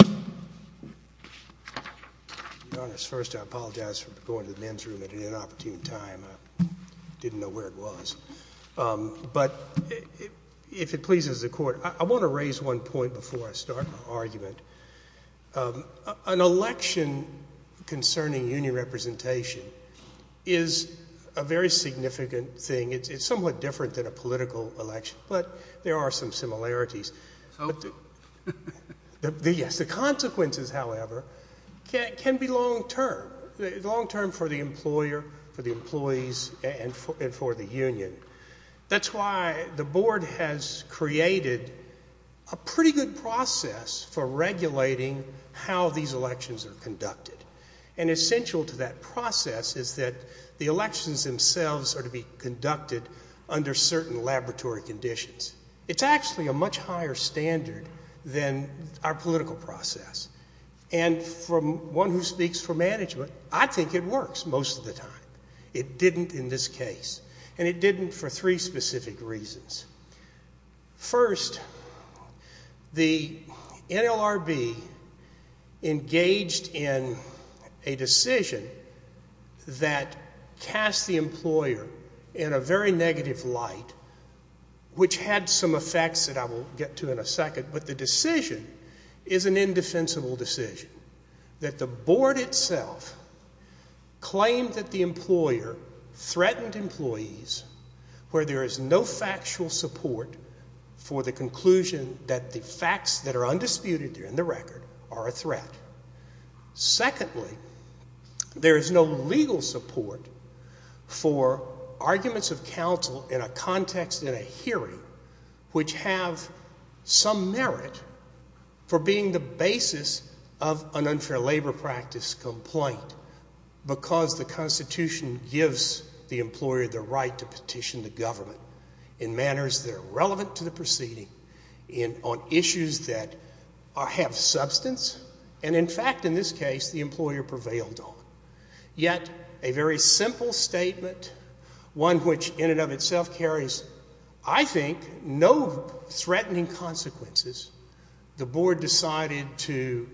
I want to raise one point before I start my argument. An election concerning union representation is a very significant thing. It's somewhat different than a political election, but there are some similarities. The consequences, however, can be long-term, long-term for the employer, for the employees, and for the union. That's why the board has created a pretty good process for regulating how these elections are conducted. And essential to that process is that the elections themselves are to be conducted under certain laboratory conditions. It's actually a much higher standard than our political process. And from one who speaks for management, I think it works most of the time. It didn't in this case, and it didn't for three specific reasons. First, the NLRB engaged in a decision that cast the employer in a very negative light, which had some effects that I will get to in a second. But the decision is an indefensible decision. That the board itself claimed that the employer threatened employees where there is no factual support for the conclusion that the facts that are undisputed in the record are a threat. Secondly, there is no legal support for arguments of counsel in a context in a hearing which have some merit for being the basis of an unfair labor practice complaint because the Constitution gives the employer the right to petition the government in manners that in fact, in this case, the employer prevailed on. Yet, a very simple statement, one which in and of itself carries, I think, no threatening consequences, the board decided to,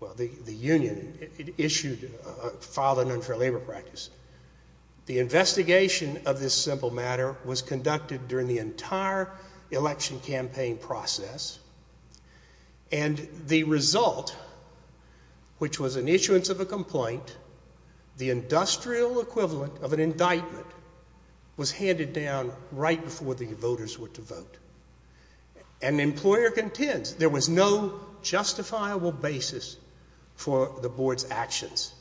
well, the union issued, filed an unfair labor practice. The investigation of this simple matter was conducted during the entire election campaign process and the result, which was an issuance of a complaint, the industrial equivalent of an indictment, was handed down right before the voters were to vote. And the employer contends there was no justifiable basis for the board's actions,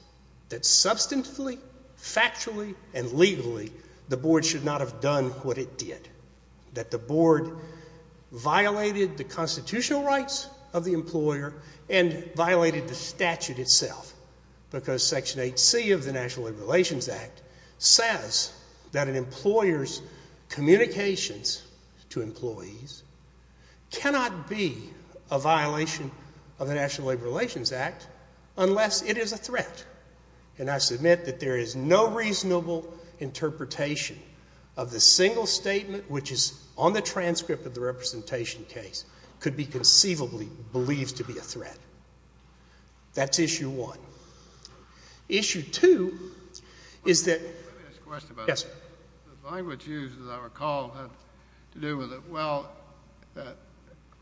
that substantively, factually, and legally, the board should not have done what it did, that the board violated the constitutional rights of the employer and violated the statute itself because Section 8C of the National Labor Relations Act says that an employer's communications to employees cannot be a violation of the National Labor Relations Act unless it is a threat. And I submit that there is no reasonable interpretation of the single statement which is on the transcript of the representation case could be conceivably believed to be a threat. That's issue one. Issue two is that— Let me ask a question about that. Yes, sir. The language used, as I recall, had to do with it, well, that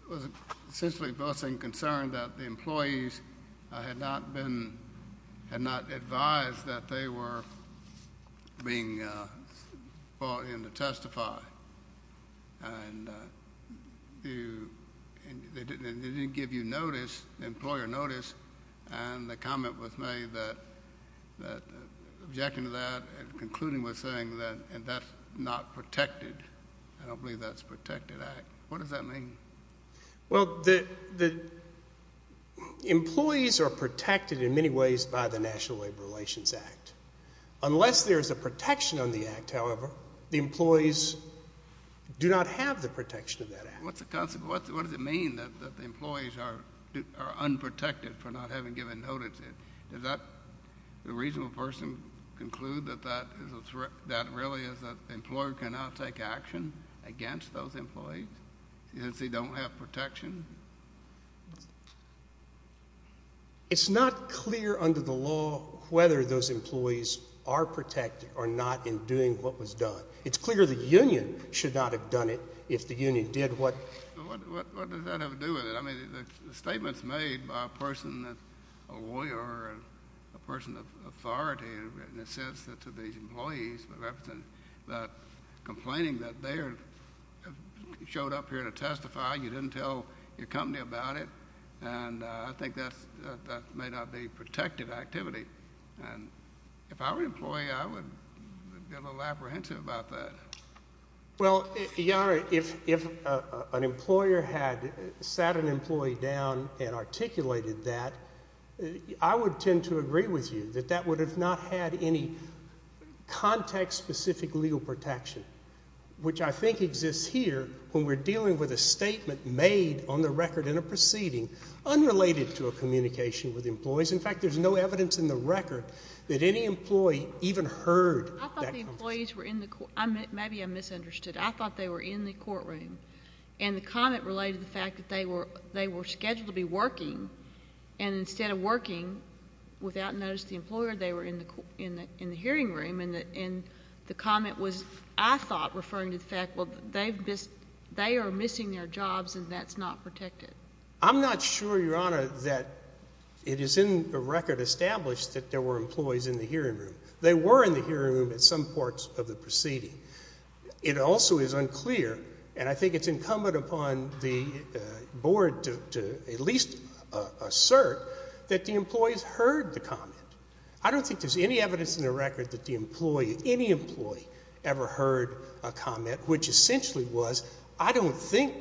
it was essentially voicing concern that the employees had not been—had not advised that they were being brought in to testify. And they didn't give you notice, employer notice, and the comment was made that—objecting to that and concluding with saying that that's not protected. I don't believe that's a protected act. What does that mean? Well, the employees are protected in many ways by the National Labor Relations Act. Unless there is a protection on the act, however, the employees do not have the protection of that act. What's the consequence? What does it mean that the employees are unprotected for not having given notice? Does that—the reasonable person conclude that that really is—that the employer cannot take action against those employees? Since they don't have protection? It's not clear under the law whether those employees are protected or not in doing what was done. It's clear the union should not have done it if the union did what— What does that have to do with it? I mean, the statements made by a person, a lawyer, a person of authority, in a sense to these employees, complaining that they are—showed up here to testify, you didn't tell your company about it, and I think that's—that may not be protective activity. And if I were an employee, I would be a little apprehensive about that. Well, Your Honor, if an employer had sat an employee down and articulated that, I would tend to agree with you that that would have not had any context-specific legal protection, which I think exists here when we're dealing with a statement made on the record in a proceeding unrelated to a communication with employees. In fact, there's no evidence in the record that any employee even heard that— I thought the employees were in the—maybe I misunderstood. I thought they were in the courtroom, and the comment related to the fact that they were scheduled to be working, and instead of working, without notice to the employer, they were in the hearing room, and the comment was, I thought, referring to the fact, well, they are missing their jobs, and that's not protected. I'm not sure, Your Honor, that it is in the record established that there were employees in the hearing room. They were in the hearing room at some parts of the proceeding. It also is unclear, and I think it's incumbent upon the Board to at least assert, that the employees heard the comment. I don't think there's any evidence in the record that the employee, any employee, ever heard a comment which essentially was, I don't think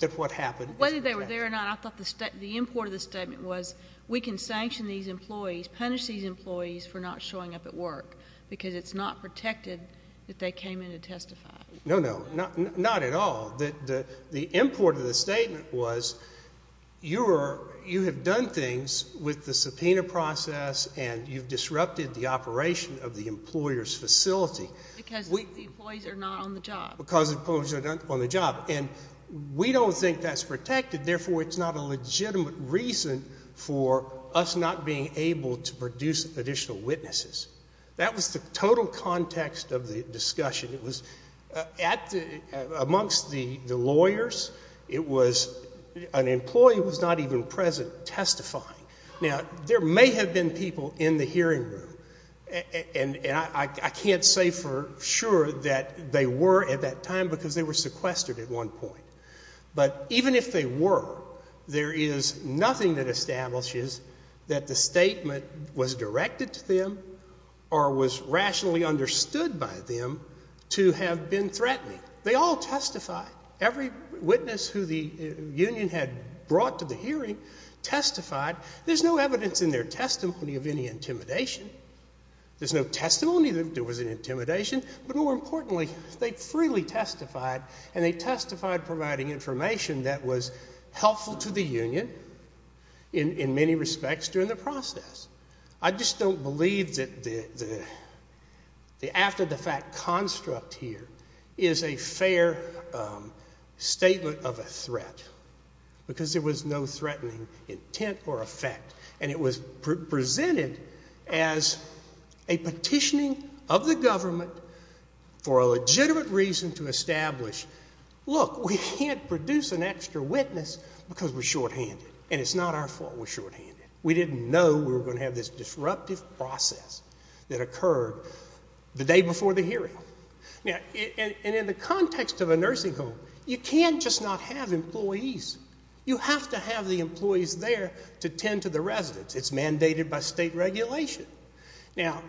that what happened is protected. Whether they were there or not, I thought the import of the statement was, we can sanction these employees, punish these employees for not showing up at work, because it's not protected that they came in to testify. No, no, not at all. The import of the statement was, you have done things with the subpoena process, and you've disrupted the operation of the employer's facility. Because the employees are not on the job. Because the employees are not on the job, and we don't think that's protected, therefore it's not a legitimate reason for us not being able to produce additional witnesses. That was the total context of the discussion. It was at the, amongst the lawyers, it was, an employee was not even present testifying. Now, there may have been people in the hearing room, and I can't say for sure that they were at that time, because they were sequestered at one point. But even if they were, there is nothing that establishes that the statement was directed to them or was rationally understood by them to have been threatening. They all testified. Every witness who the union had brought to the hearing testified. There's no evidence in their testimony of any intimidation. There's no testimony that there was an intimidation, but more importantly, they freely testified, and they testified providing information that was helpful to the union in many respects during the process. I just don't believe that the after-the-fact construct here is a fair statement of a threat, because there was no threatening intent or effect, and it was presented as a petitioning of the government for a legitimate reason to establish, look, we can't produce an extra witness because we're shorthanded, and it's not our fault we're shorthanded. We didn't know we were going to have this disruptive process that occurred the day before the hearing. And in the context of a nursing home, you can't just not have employees. You have to have the employees there to tend to the residents. It's mandated by state regulation. Now,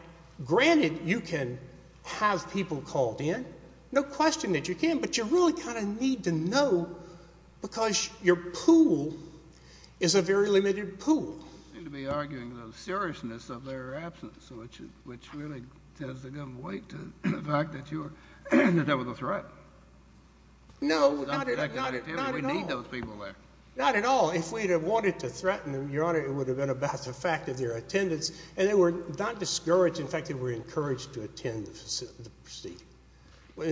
granted, you can have people called in. No question that you can, but you really kind of need to know, because your pool is a very limited pool. You seem to be arguing the seriousness of their absence, which really tends the government weight to the fact that that was a threat. No, not at all. We need those people there. Not at all. If we had wanted to threaten them, Your Honor, it would have been about the fact of their attendance, and they were not discouraged. In fact, they were encouraged to attend the proceeding.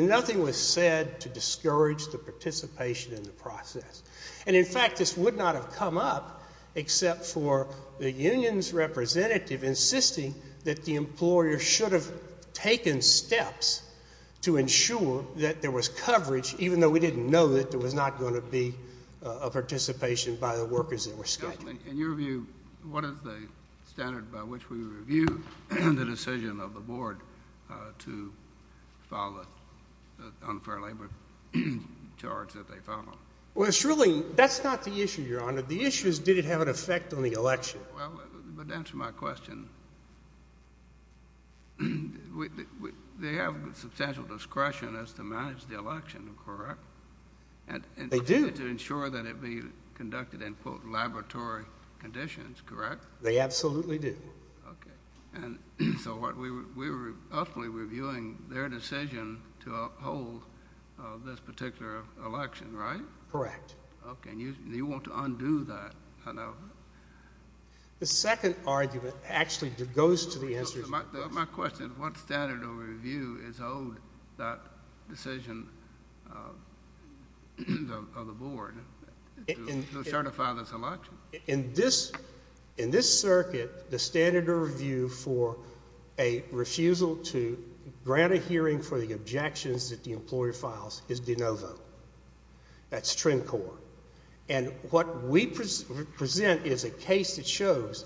Nothing was said to discourage the participation in the process. And in fact, this would not have come up except for the union's representative insisting that the employer should have taken steps to ensure that there was coverage, even though we didn't know that there was not going to be a participation by the workers that were scheduled. In your view, what is the standard by which we review the decision of the board to file the unfair labor charge that they filed? Well, it's really—that's not the issue, Your Honor. The issue is did it have an effect on the election. Well, but to answer my question, they have substantial discretion as to manage the election, correct? They do. And to ensure that it be conducted in, quote, laboratory conditions, correct? They absolutely do. Okay. And so we were roughly reviewing their decision to uphold this particular election, right? Correct. Okay. And you want to undo that, I know. The second argument actually goes to the answer to your question. My question is what standard of review is owed that decision of the board to certify this election? Well, in this circuit, the standard of review for a refusal to grant a hearing for the objections that the employer files is de novo. That's trim core. And what we present is a case that shows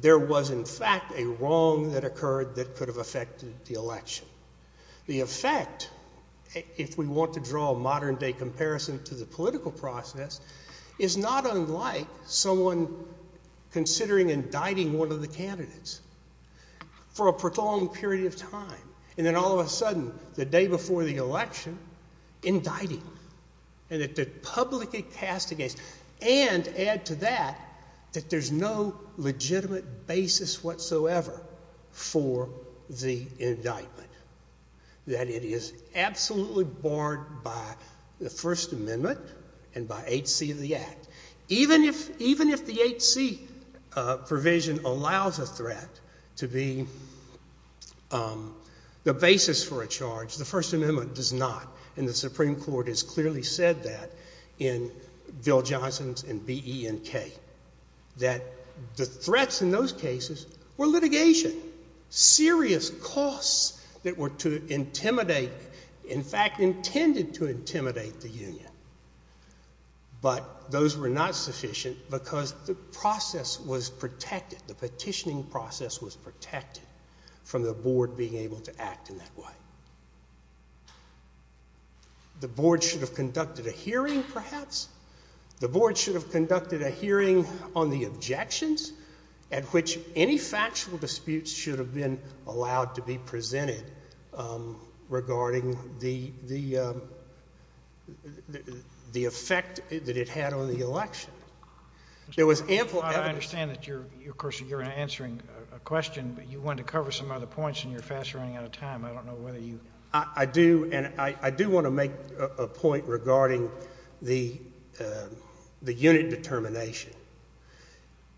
there was, in fact, a wrong that occurred that could have affected the election. The effect, if we want to draw a modern-day comparison to the political process, is not unlike someone considering indicting one of the candidates for a prolonged period of time. And then all of a sudden, the day before the election, indicting. And that the public is cast against. And to add to that, that there's no legitimate basis whatsoever for the indictment. That it is absolutely barred by the First Amendment and by 8C of the Act. Even if the 8C provision allows a threat to be the basis for a charge, the First Amendment does not. And the Supreme Court has clearly said that in Bill Johnson's and B.E.N.K. that the threats in those cases were litigation. Serious costs that were to intimidate, in fact, intended to intimidate the union. But those were not sufficient because the process was protected. The petitioning process was protected from the board being able to act in that way. The board should have conducted a hearing, perhaps. The board should have conducted a hearing on the objections at which any factual disputes should have been allowed to be presented regarding the effect that it had on the election. There was ample evidence. I understand that you're, of course, you're answering a question, but you wanted to cover some other points and you're fast running out of time. I don't know whether you... I do, and I do want to make a point regarding the unit determination.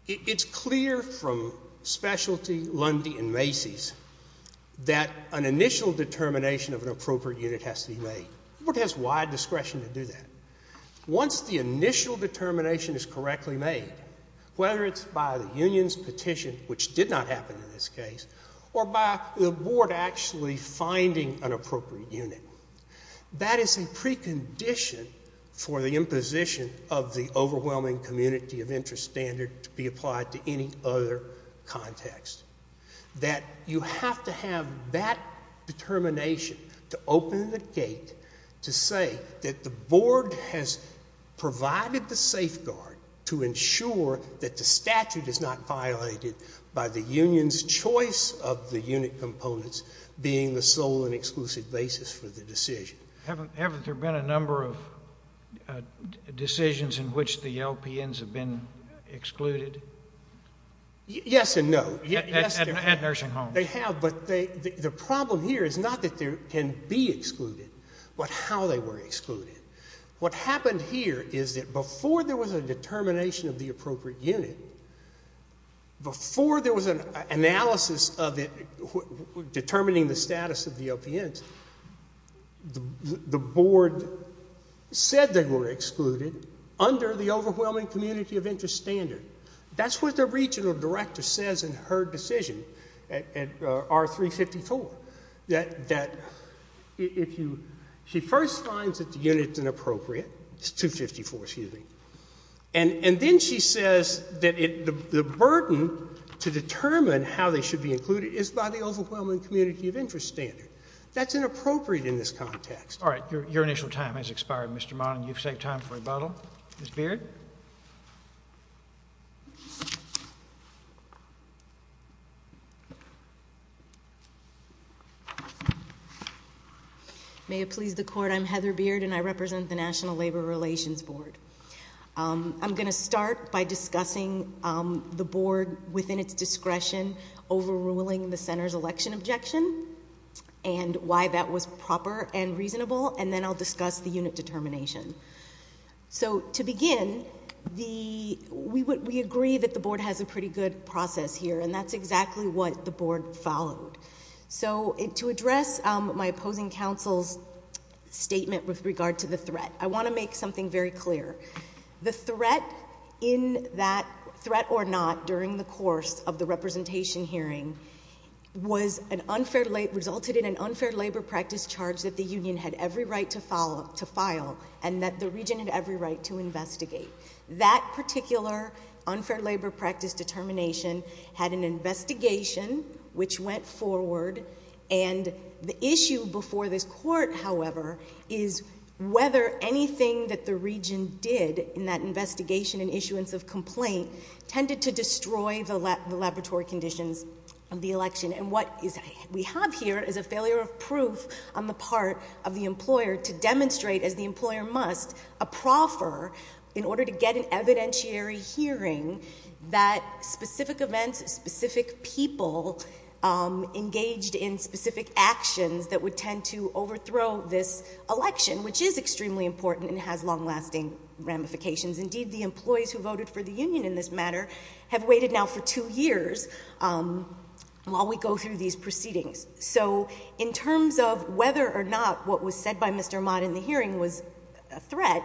It's clear from Specialty, Lundy, and Macy's that an initial determination of an appropriate unit has to be made. The board has wide discretion to do that. Once the initial determination is correctly made, whether it's by the union's petition, which did not happen in this case, or by the board actually finding an appropriate unit, that is a precondition for the imposition of the overwhelming community of interest standard to be applied to any other context. That you have to have that determination to open the gate to say that the board has choice of the unit components being the sole and exclusive basis for the decision. Haven't there been a number of decisions in which the LPNs have been excluded? Yes and no. At nursing homes. They have, but the problem here is not that they can be excluded, but how they were excluded. What happened here is that before there was a determination of the appropriate unit, before there was an analysis of it determining the status of the LPNs, the board said they were excluded under the overwhelming community of interest standard. That's what the regional director says in her decision, R354, that if you, she first finds that the unit's inappropriate, it's 254, excuse me, and then she says that the burden to determine how they should be included is by the overwhelming community of interest standard. That's inappropriate in this context. All right. Your initial time has expired, Mr. Marlin. You've saved time for rebuttal. Ms. Beard? May it please the court, I'm Heather Beard, and I represent the National Labor Relations Board. I'm going to start by discussing the board within its discretion overruling the center's election objection and why that was proper and reasonable, and then I'll discuss the unit determination. So to begin, we agree that the board has a pretty good process here, and that's exactly what the board followed. So to address my opposing counsel's statement with regard to the threat, I want to make something very clear. The threat in that threat or not during the course of the representation hearing resulted in an unfair labor practice charge that the union had every right to file and that the region had every right to investigate. That particular unfair labor practice determination had an investigation which went forward, and the issue before this court, however, is whether anything that the region did in that investigation and issuance of complaint tended to destroy the laboratory conditions of the election. And what we have here is a failure of proof on the part of the employer to demonstrate, as the employer must, a proffer in order to get an evidentiary hearing that specific events, specific people engaged in specific actions that would tend to overthrow this election, which is extremely important and has long-lasting ramifications. Indeed, the employees who voted for the union in this matter have waited now for two years while we go through these proceedings. So in terms of whether or not what was said by Mr. Ahmad in the hearing was a threat,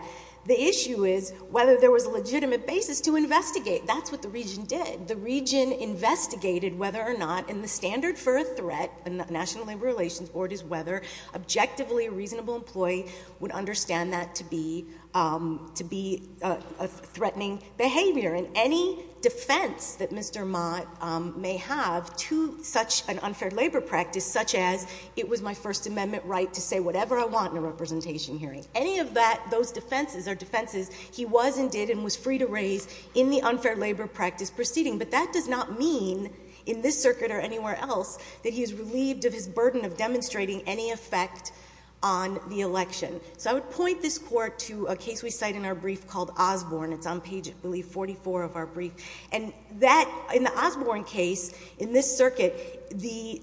the issue is whether there was a legitimate basis to investigate. That's what the region did. The region investigated whether or not in the standard for a threat in the National Labor Relations Board is whether objectively a reasonable employee would understand that to be a threatening behavior. And any defense that Mr. Ahmad may have to such an unfair labor practice, such as it was my First Amendment right to say whatever I want in a representation hearing, any of those defenses are defenses he was and did and was free to raise in the unfair labor practice proceeding. But that does not mean in this circuit or anywhere else that he is relieved of his burden of demonstrating any effect on the election. So I would point this Court to a case we cite in our brief called Osborne. It's on page, I believe, 44 of our brief. And in the Osborne case in this circuit, the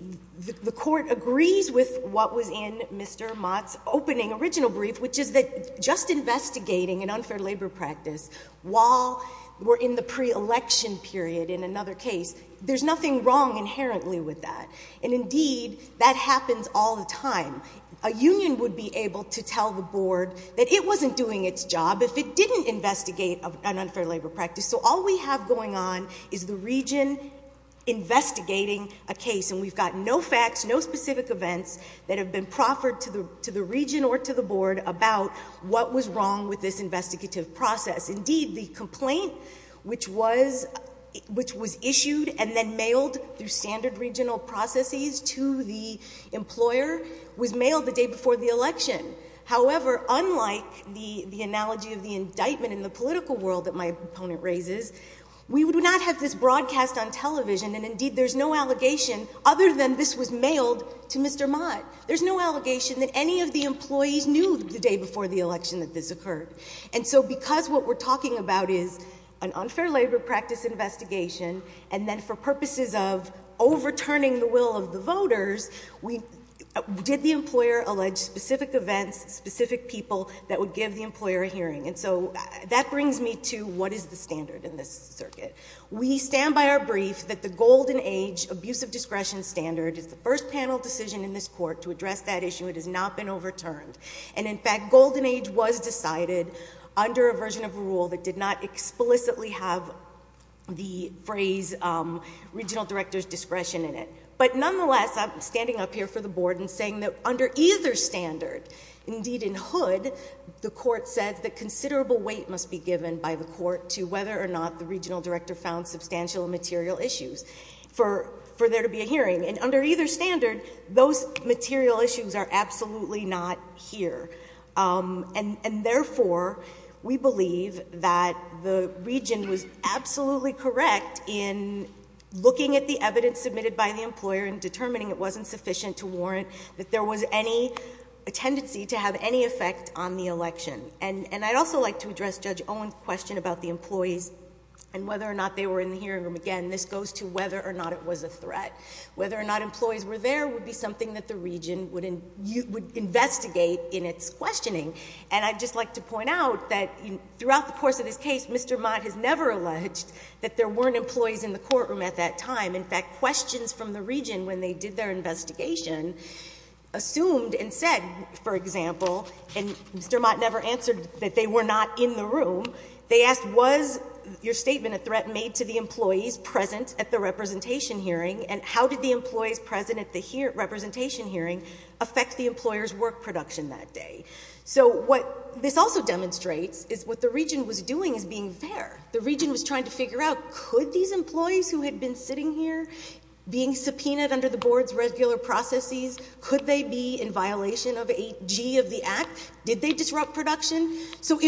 Court agrees with what was in Mr. Ahmad's opening original brief, which is that just investigating an unfair labor practice while we're in the pre-election period in another case, there's nothing wrong inherently with that. And indeed, that happens all the time. A union would be able to tell the Board that it wasn't doing its job if it didn't investigate an unfair labor practice. So all we have going on is the region investigating a case, and we've got no facts, no specific events that have been proffered to the region or to the Board about what was wrong with this investigative process. Indeed, the complaint which was issued and then mailed through standard regional processes to the employer was mailed the day before the election. However, unlike the analogy of the indictment in the political world that my opponent raises, we would not have this broadcast on television, and indeed there's no allegation other than this was mailed to Mr. Ahmad. There's no allegation that any of the employees knew the day before the election that this occurred. And so because what we're talking about is an unfair labor practice investigation, and then for purposes of overturning the will of the voters, we did the employer allege specific events, specific people that would give the employer a hearing. And so that brings me to what is the standard in this circuit. We stand by our brief that the Golden Age Abusive Discretion Standard is the first panel decision in this court to address that issue. It has not been overturned. And in fact, Golden Age was decided under a version of a rule that did not explicitly have the phrase regional director's discretion in it. But nonetheless, I'm standing up here for the Board and saying that under either standard, indeed in Hood, the court said that considerable weight must be given by the court to whether or not the regional director found substantial material issues for there to be a hearing. And under either standard, those material issues are absolutely not here. And therefore, we believe that the region was absolutely correct in looking at the evidence submitted by the employer and determining it wasn't sufficient to warrant that there was any tendency to have any effect on the election. And I'd also like to address Judge Owen's question about the employees and whether or not they were in the hearing room. Again, this goes to whether or not it was a threat. Whether or not employees were there would be something that the region would investigate in its questioning. And I'd just like to point out that throughout the course of this case, Mr. Mott has never alleged that there weren't employees in the courtroom at that time. In fact, questions from the region when they did their investigation assumed and said, for example, and Mr. Mott never answered that they were not in the room, they asked was your statement a threat made to the employees present at the representation hearing and how did the employees present at the representation hearing affect the employer's work production that day? So what this also demonstrates is what the region was doing is being fair. The region was trying to figure out could these employees who had been sitting here, being subpoenaed under the board's regular processes, could they be in violation of 8G of the Act? Did they disrupt production? So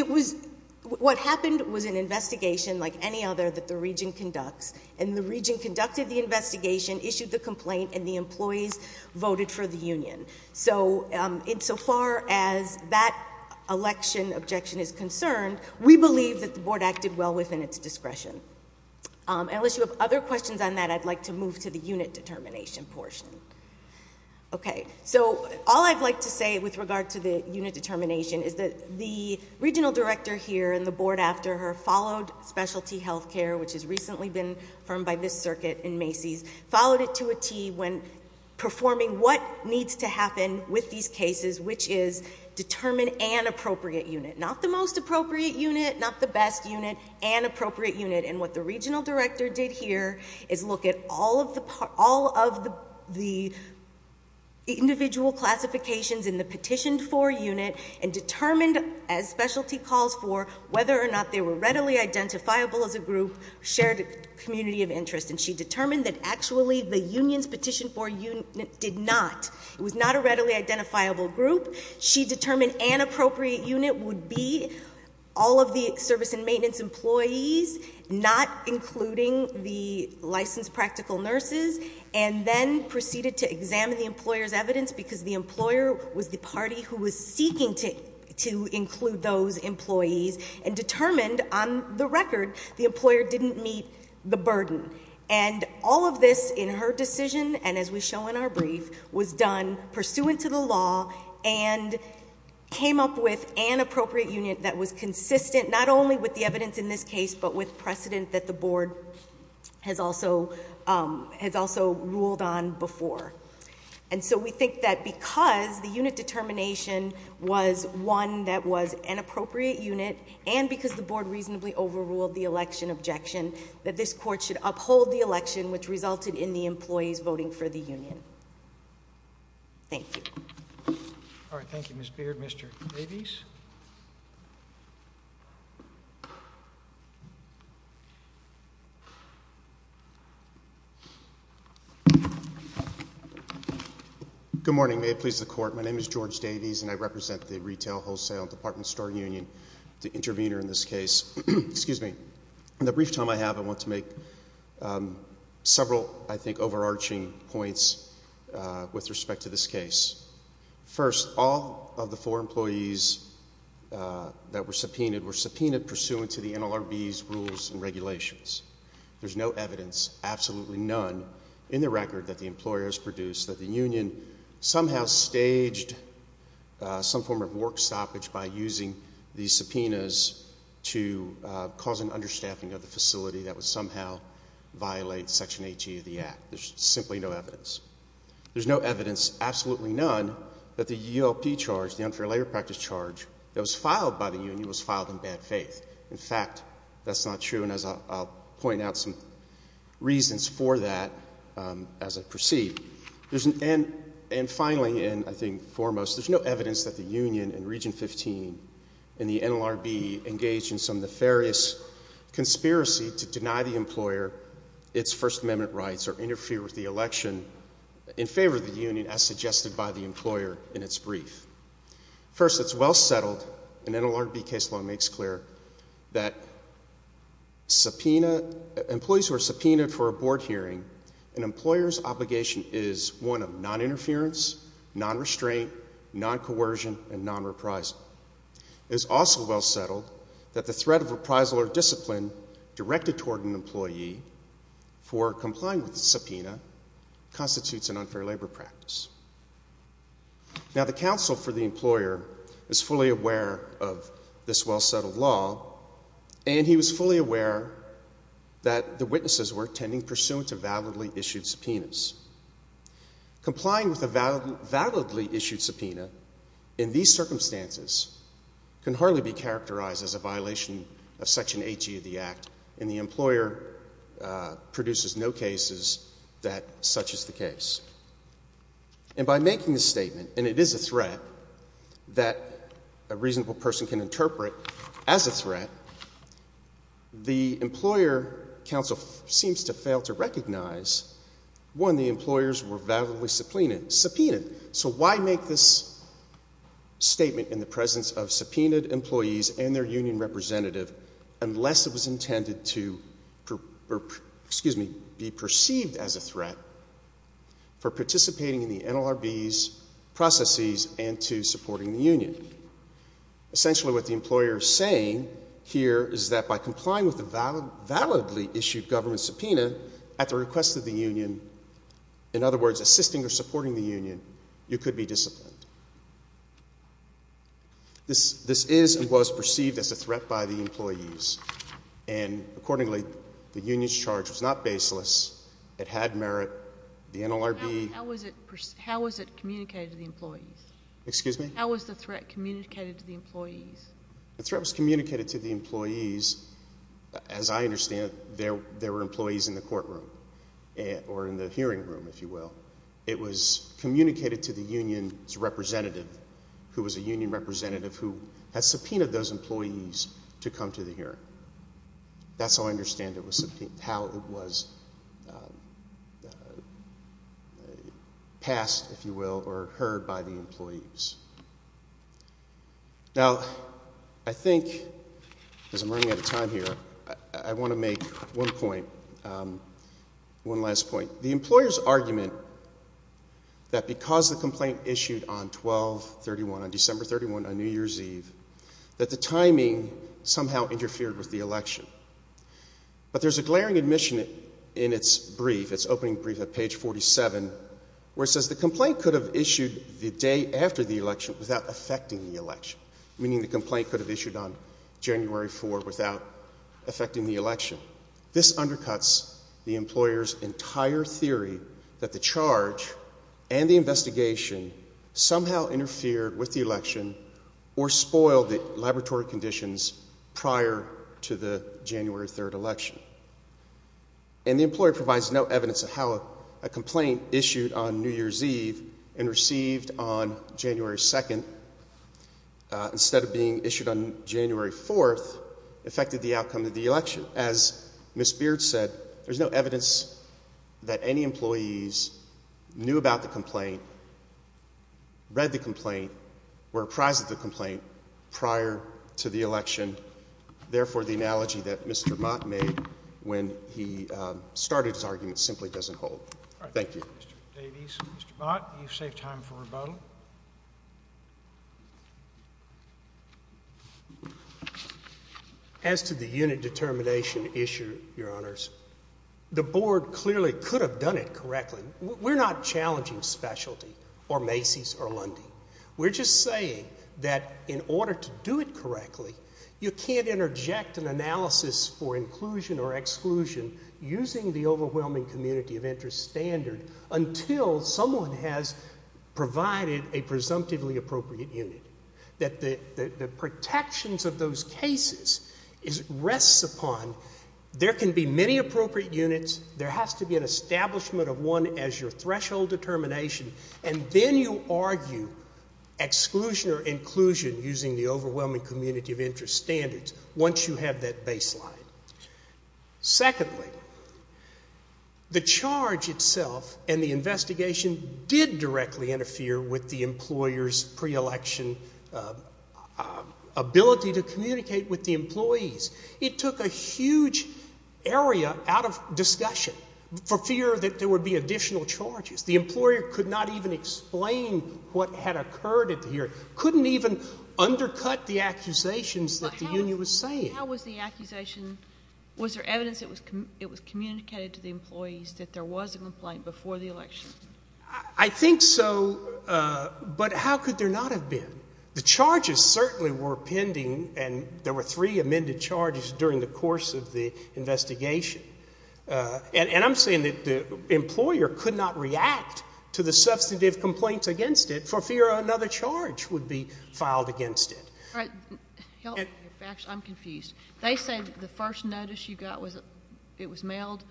what happened was an investigation like any other that the region conducts, and the region conducted the investigation, issued the complaint, and the employees voted for the union. So insofar as that election objection is concerned, we believe that the board acted well within its discretion. Unless you have other questions on that, I'd like to move to the unit determination portion. Okay, so all I'd like to say with regard to the unit determination is that the regional director here and the board after her followed specialty health care, which has recently been affirmed by this circuit in Macy's, followed it to a T when performing what needs to happen with these cases, which is determine an appropriate unit. Not the most appropriate unit, not the best unit, an appropriate unit. And what the regional director did here is look at all of the individual classifications in the petitioned for unit and determined, as specialty calls for, whether or not they were readily identifiable as a group, shared community of interest, and she determined that actually the union's petitioned for unit did not. It was not a readily identifiable group. She determined an appropriate unit would be all of the service and maintenance employees, not including the licensed practical nurses, and then proceeded to examine the employer's evidence because the employer was the party who was seeking to include those employees, and determined on the record the employer didn't meet the burden. And all of this in her decision, and as we show in our brief, was done pursuant to the law and came up with an appropriate unit that was consistent not only with the evidence in this case but with precedent that the board has also ruled on before. And so we think that because the unit determination was one that was an appropriate unit and because the board reasonably overruled the election objection, that this court should uphold the election which resulted in the employees voting for the union. Thank you. All right, thank you, Ms. Beard. Mr. Davies? Good morning. May it please the Court, my name is George Davies, and I represent the Retail, Wholesale, and Department Store Union, the intervener in this case. In the brief time I have, I want to make several, I think, overarching points with respect to this case. First, all of the four employees that were subpoenaed were subpoenaed pursuant to the NLRB's rules and regulations. There's no evidence, absolutely none, in the record that the employers produced that the union somehow staged some form of work stoppage by using these subpoenas to cause an understaffing of the facility that would somehow violate Section 80 of the Act. There's simply no evidence. There's no evidence, absolutely none, that the ULP charge, the unfair labor practice charge, that was filed by the union was filed in bad faith. In fact, that's not true, and I'll point out some reasons for that as I proceed. And finally, and I think foremost, there's no evidence that the union in Region 15 and the NLRB engaged in some nefarious conspiracy to deny the employer its First Amendment rights or interfere with the election in favor of the union as suggested by the employer in its brief. First, it's well settled, and NLRB case law makes clear, that employees who are subpoenaed for a board hearing an employer's obligation is one of non-interference, non-restraint, non-coercion, and non-reprisal. It is also well settled that the threat of reprisal or discipline directed toward an employee for complying with the subpoena constitutes an unfair labor practice. Now, the counsel for the employer is fully aware of this well-settled law, and he was fully aware that the witnesses were tending pursuant to validly issued subpoenas. Complying with a validly issued subpoena in these circumstances can hardly be characterized as a violation of Section 80 of the Act, and the employer produces no cases that such is the case. And by making the statement, and it is a threat that a reasonable person can interpret as a threat, the employer counsel seems to fail to recognize, one, the employers were validly subpoenaed. So why make this statement in the presence of subpoenaed employees and their union representative unless it was intended to be perceived as a threat for participating in the NLRB's processes and to supporting the union? Essentially what the employer is saying here is that by complying with the validly issued government subpoena at the request of the union, in other words, assisting or supporting the union, you could be disciplined. This is and was perceived as a threat by the employees, and accordingly, the union's charge was not baseless. It had merit. The NLRB— How was it communicated to the employees? Excuse me? How was the threat communicated to the employees? The threat was communicated to the employees. As I understand it, there were employees in the courtroom or in the hearing room, if you will. It was communicated to the union's representative, who was a union representative who had subpoenaed those employees to come to the hearing. That's how I understand it was subpoenaed, how it was passed, if you will, or heard by the employees. Now, I think, as I'm running out of time here, I want to make one point, one last point. The employer's argument that because the complaint issued on 12-31, on December 31, on New Year's Eve, that the timing somehow interfered with the election. But there's a glaring admission in its brief, its opening brief at page 47, where it says the complaint could have issued the day after the election without affecting the election, meaning the complaint could have issued on January 4 without affecting the election. This undercuts the employer's entire theory that the charge and the investigation somehow interfered with the election or spoiled the laboratory conditions prior to the January 3 election. And the employer provides no evidence of how a complaint issued on New Year's Eve and received on January 2, instead of being issued on January 4, affected the outcome of the election. As Ms. Beard said, there's no evidence that any employees knew about the complaint, read the complaint, were apprised of the complaint prior to the election. Therefore, the analogy that Mr. Mott made when he started his argument simply doesn't hold. Thank you. Thank you, Mr. Davies. Mr. Mott, you've saved time for rebuttal. As to the unit determination issue, Your Honors, the board clearly could have done it correctly. We're not challenging specialty or Macy's or Lundy. We're just saying that in order to do it correctly, you can't interject an analysis for inclusion or exclusion using the overwhelming community of interest standard until someone has provided a presumptively appropriate unit. The protections of those cases rests upon there can be many appropriate units, there has to be an establishment of one as your threshold determination, and then you argue exclusion or inclusion using the overwhelming community of interest standards once you have that baseline. Secondly, the charge itself and the investigation did directly interfere with the employer's pre-election ability to communicate with the employees. It took a huge area out of discussion for fear that there would be additional charges. The employer could not even explain what had occurred at the hearing, couldn't even undercut the accusations that the union was saying. How was the accusation? Was there evidence that it was communicated to the employees that there was a complaint before the election? I think so, but how could there not have been? The charges certainly were pending, and there were three amended charges during the course of the investigation. And I'm saying that the employer could not react to the substantive complaints against it for fear another charge would be filed against it. I'm confused. They say the first notice you got was it was mailed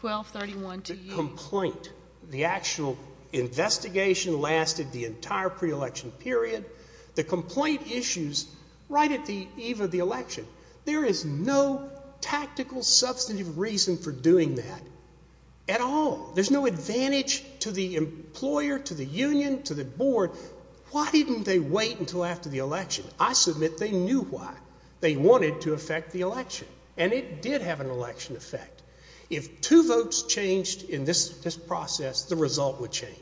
12-31 to you. The complaint, the actual investigation lasted the entire pre-election period. The complaint issues right at the eve of the election. There is no tactical substantive reason for doing that at all. There's no advantage to the employer, to the union, to the board. Why didn't they wait until after the election? I submit they knew why. They wanted to affect the election, and it did have an election effect. If two votes changed in this process, the result would change.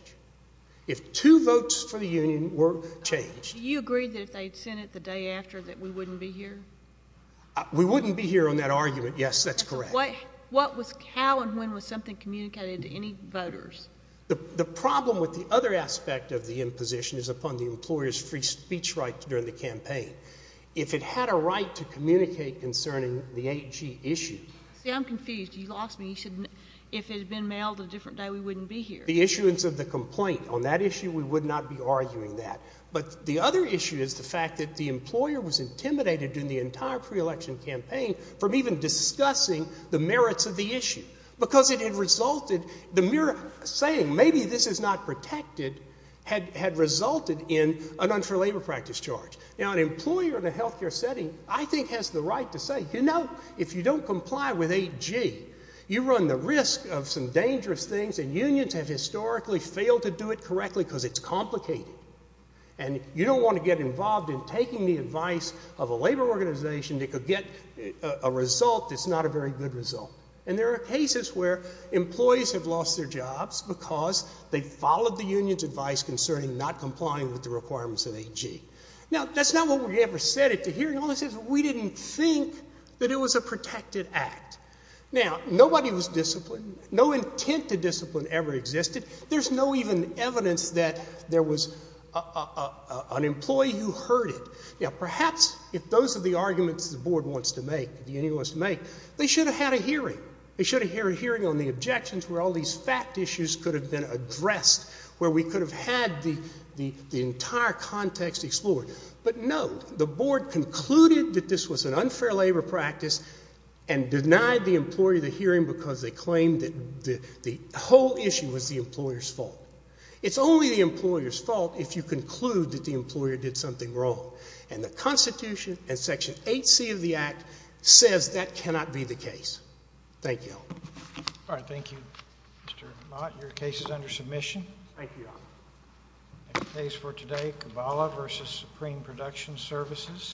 If two votes for the union were changed. Do you agree that if they'd sent it the day after that we wouldn't be here? We wouldn't be here on that argument, yes. That's correct. How and when was something communicated to any voters? The problem with the other aspect of the imposition is upon the employer's free speech rights during the campaign. If it had a right to communicate concerning the 8G issue. See, I'm confused. You lost me. You said if it had been mailed a different day we wouldn't be here. The issuance of the complaint, on that issue we would not be arguing that. But the other issue is the fact that the employer was intimidated during the entire pre-election campaign from even discussing the merits of the issue because it had resulted, the mere saying maybe this is not protected had resulted in an unfair labor practice charge. Now an employer in a health care setting I think has the right to say, you know, if you don't comply with 8G, you run the risk of some dangerous things and unions have historically failed to do it correctly because it's complicated. And you don't want to get involved in taking the advice of a labor organization that could get a result that's not a very good result. And there are cases where employees have lost their jobs because they followed the union's advice concerning not complying with the requirements of 8G. Now, that's not what we ever said at the hearing. All we said is we didn't think that it was a protected act. Now, nobody was disciplined. No intent to discipline ever existed. There's no even evidence that there was an employee who heard it. Now, perhaps if those are the arguments the board wants to make, the union wants to make, they should have had a hearing. They should have had a hearing on the objections where all these fact issues could have been addressed, where we could have had the entire context explored. But no, the board concluded that this was an unfair labor practice and denied the employee the hearing because they claimed that the whole issue was the employer's fault. It's only the employer's fault if you conclude that the employer did something wrong. And the Constitution and Section 8C of the Act says that cannot be the case. Thank you. All right, thank you. Mr. Mott, your case is under submission. Thank you, Your Honor. Case for today, Kabbalah v. Supreme Production Services.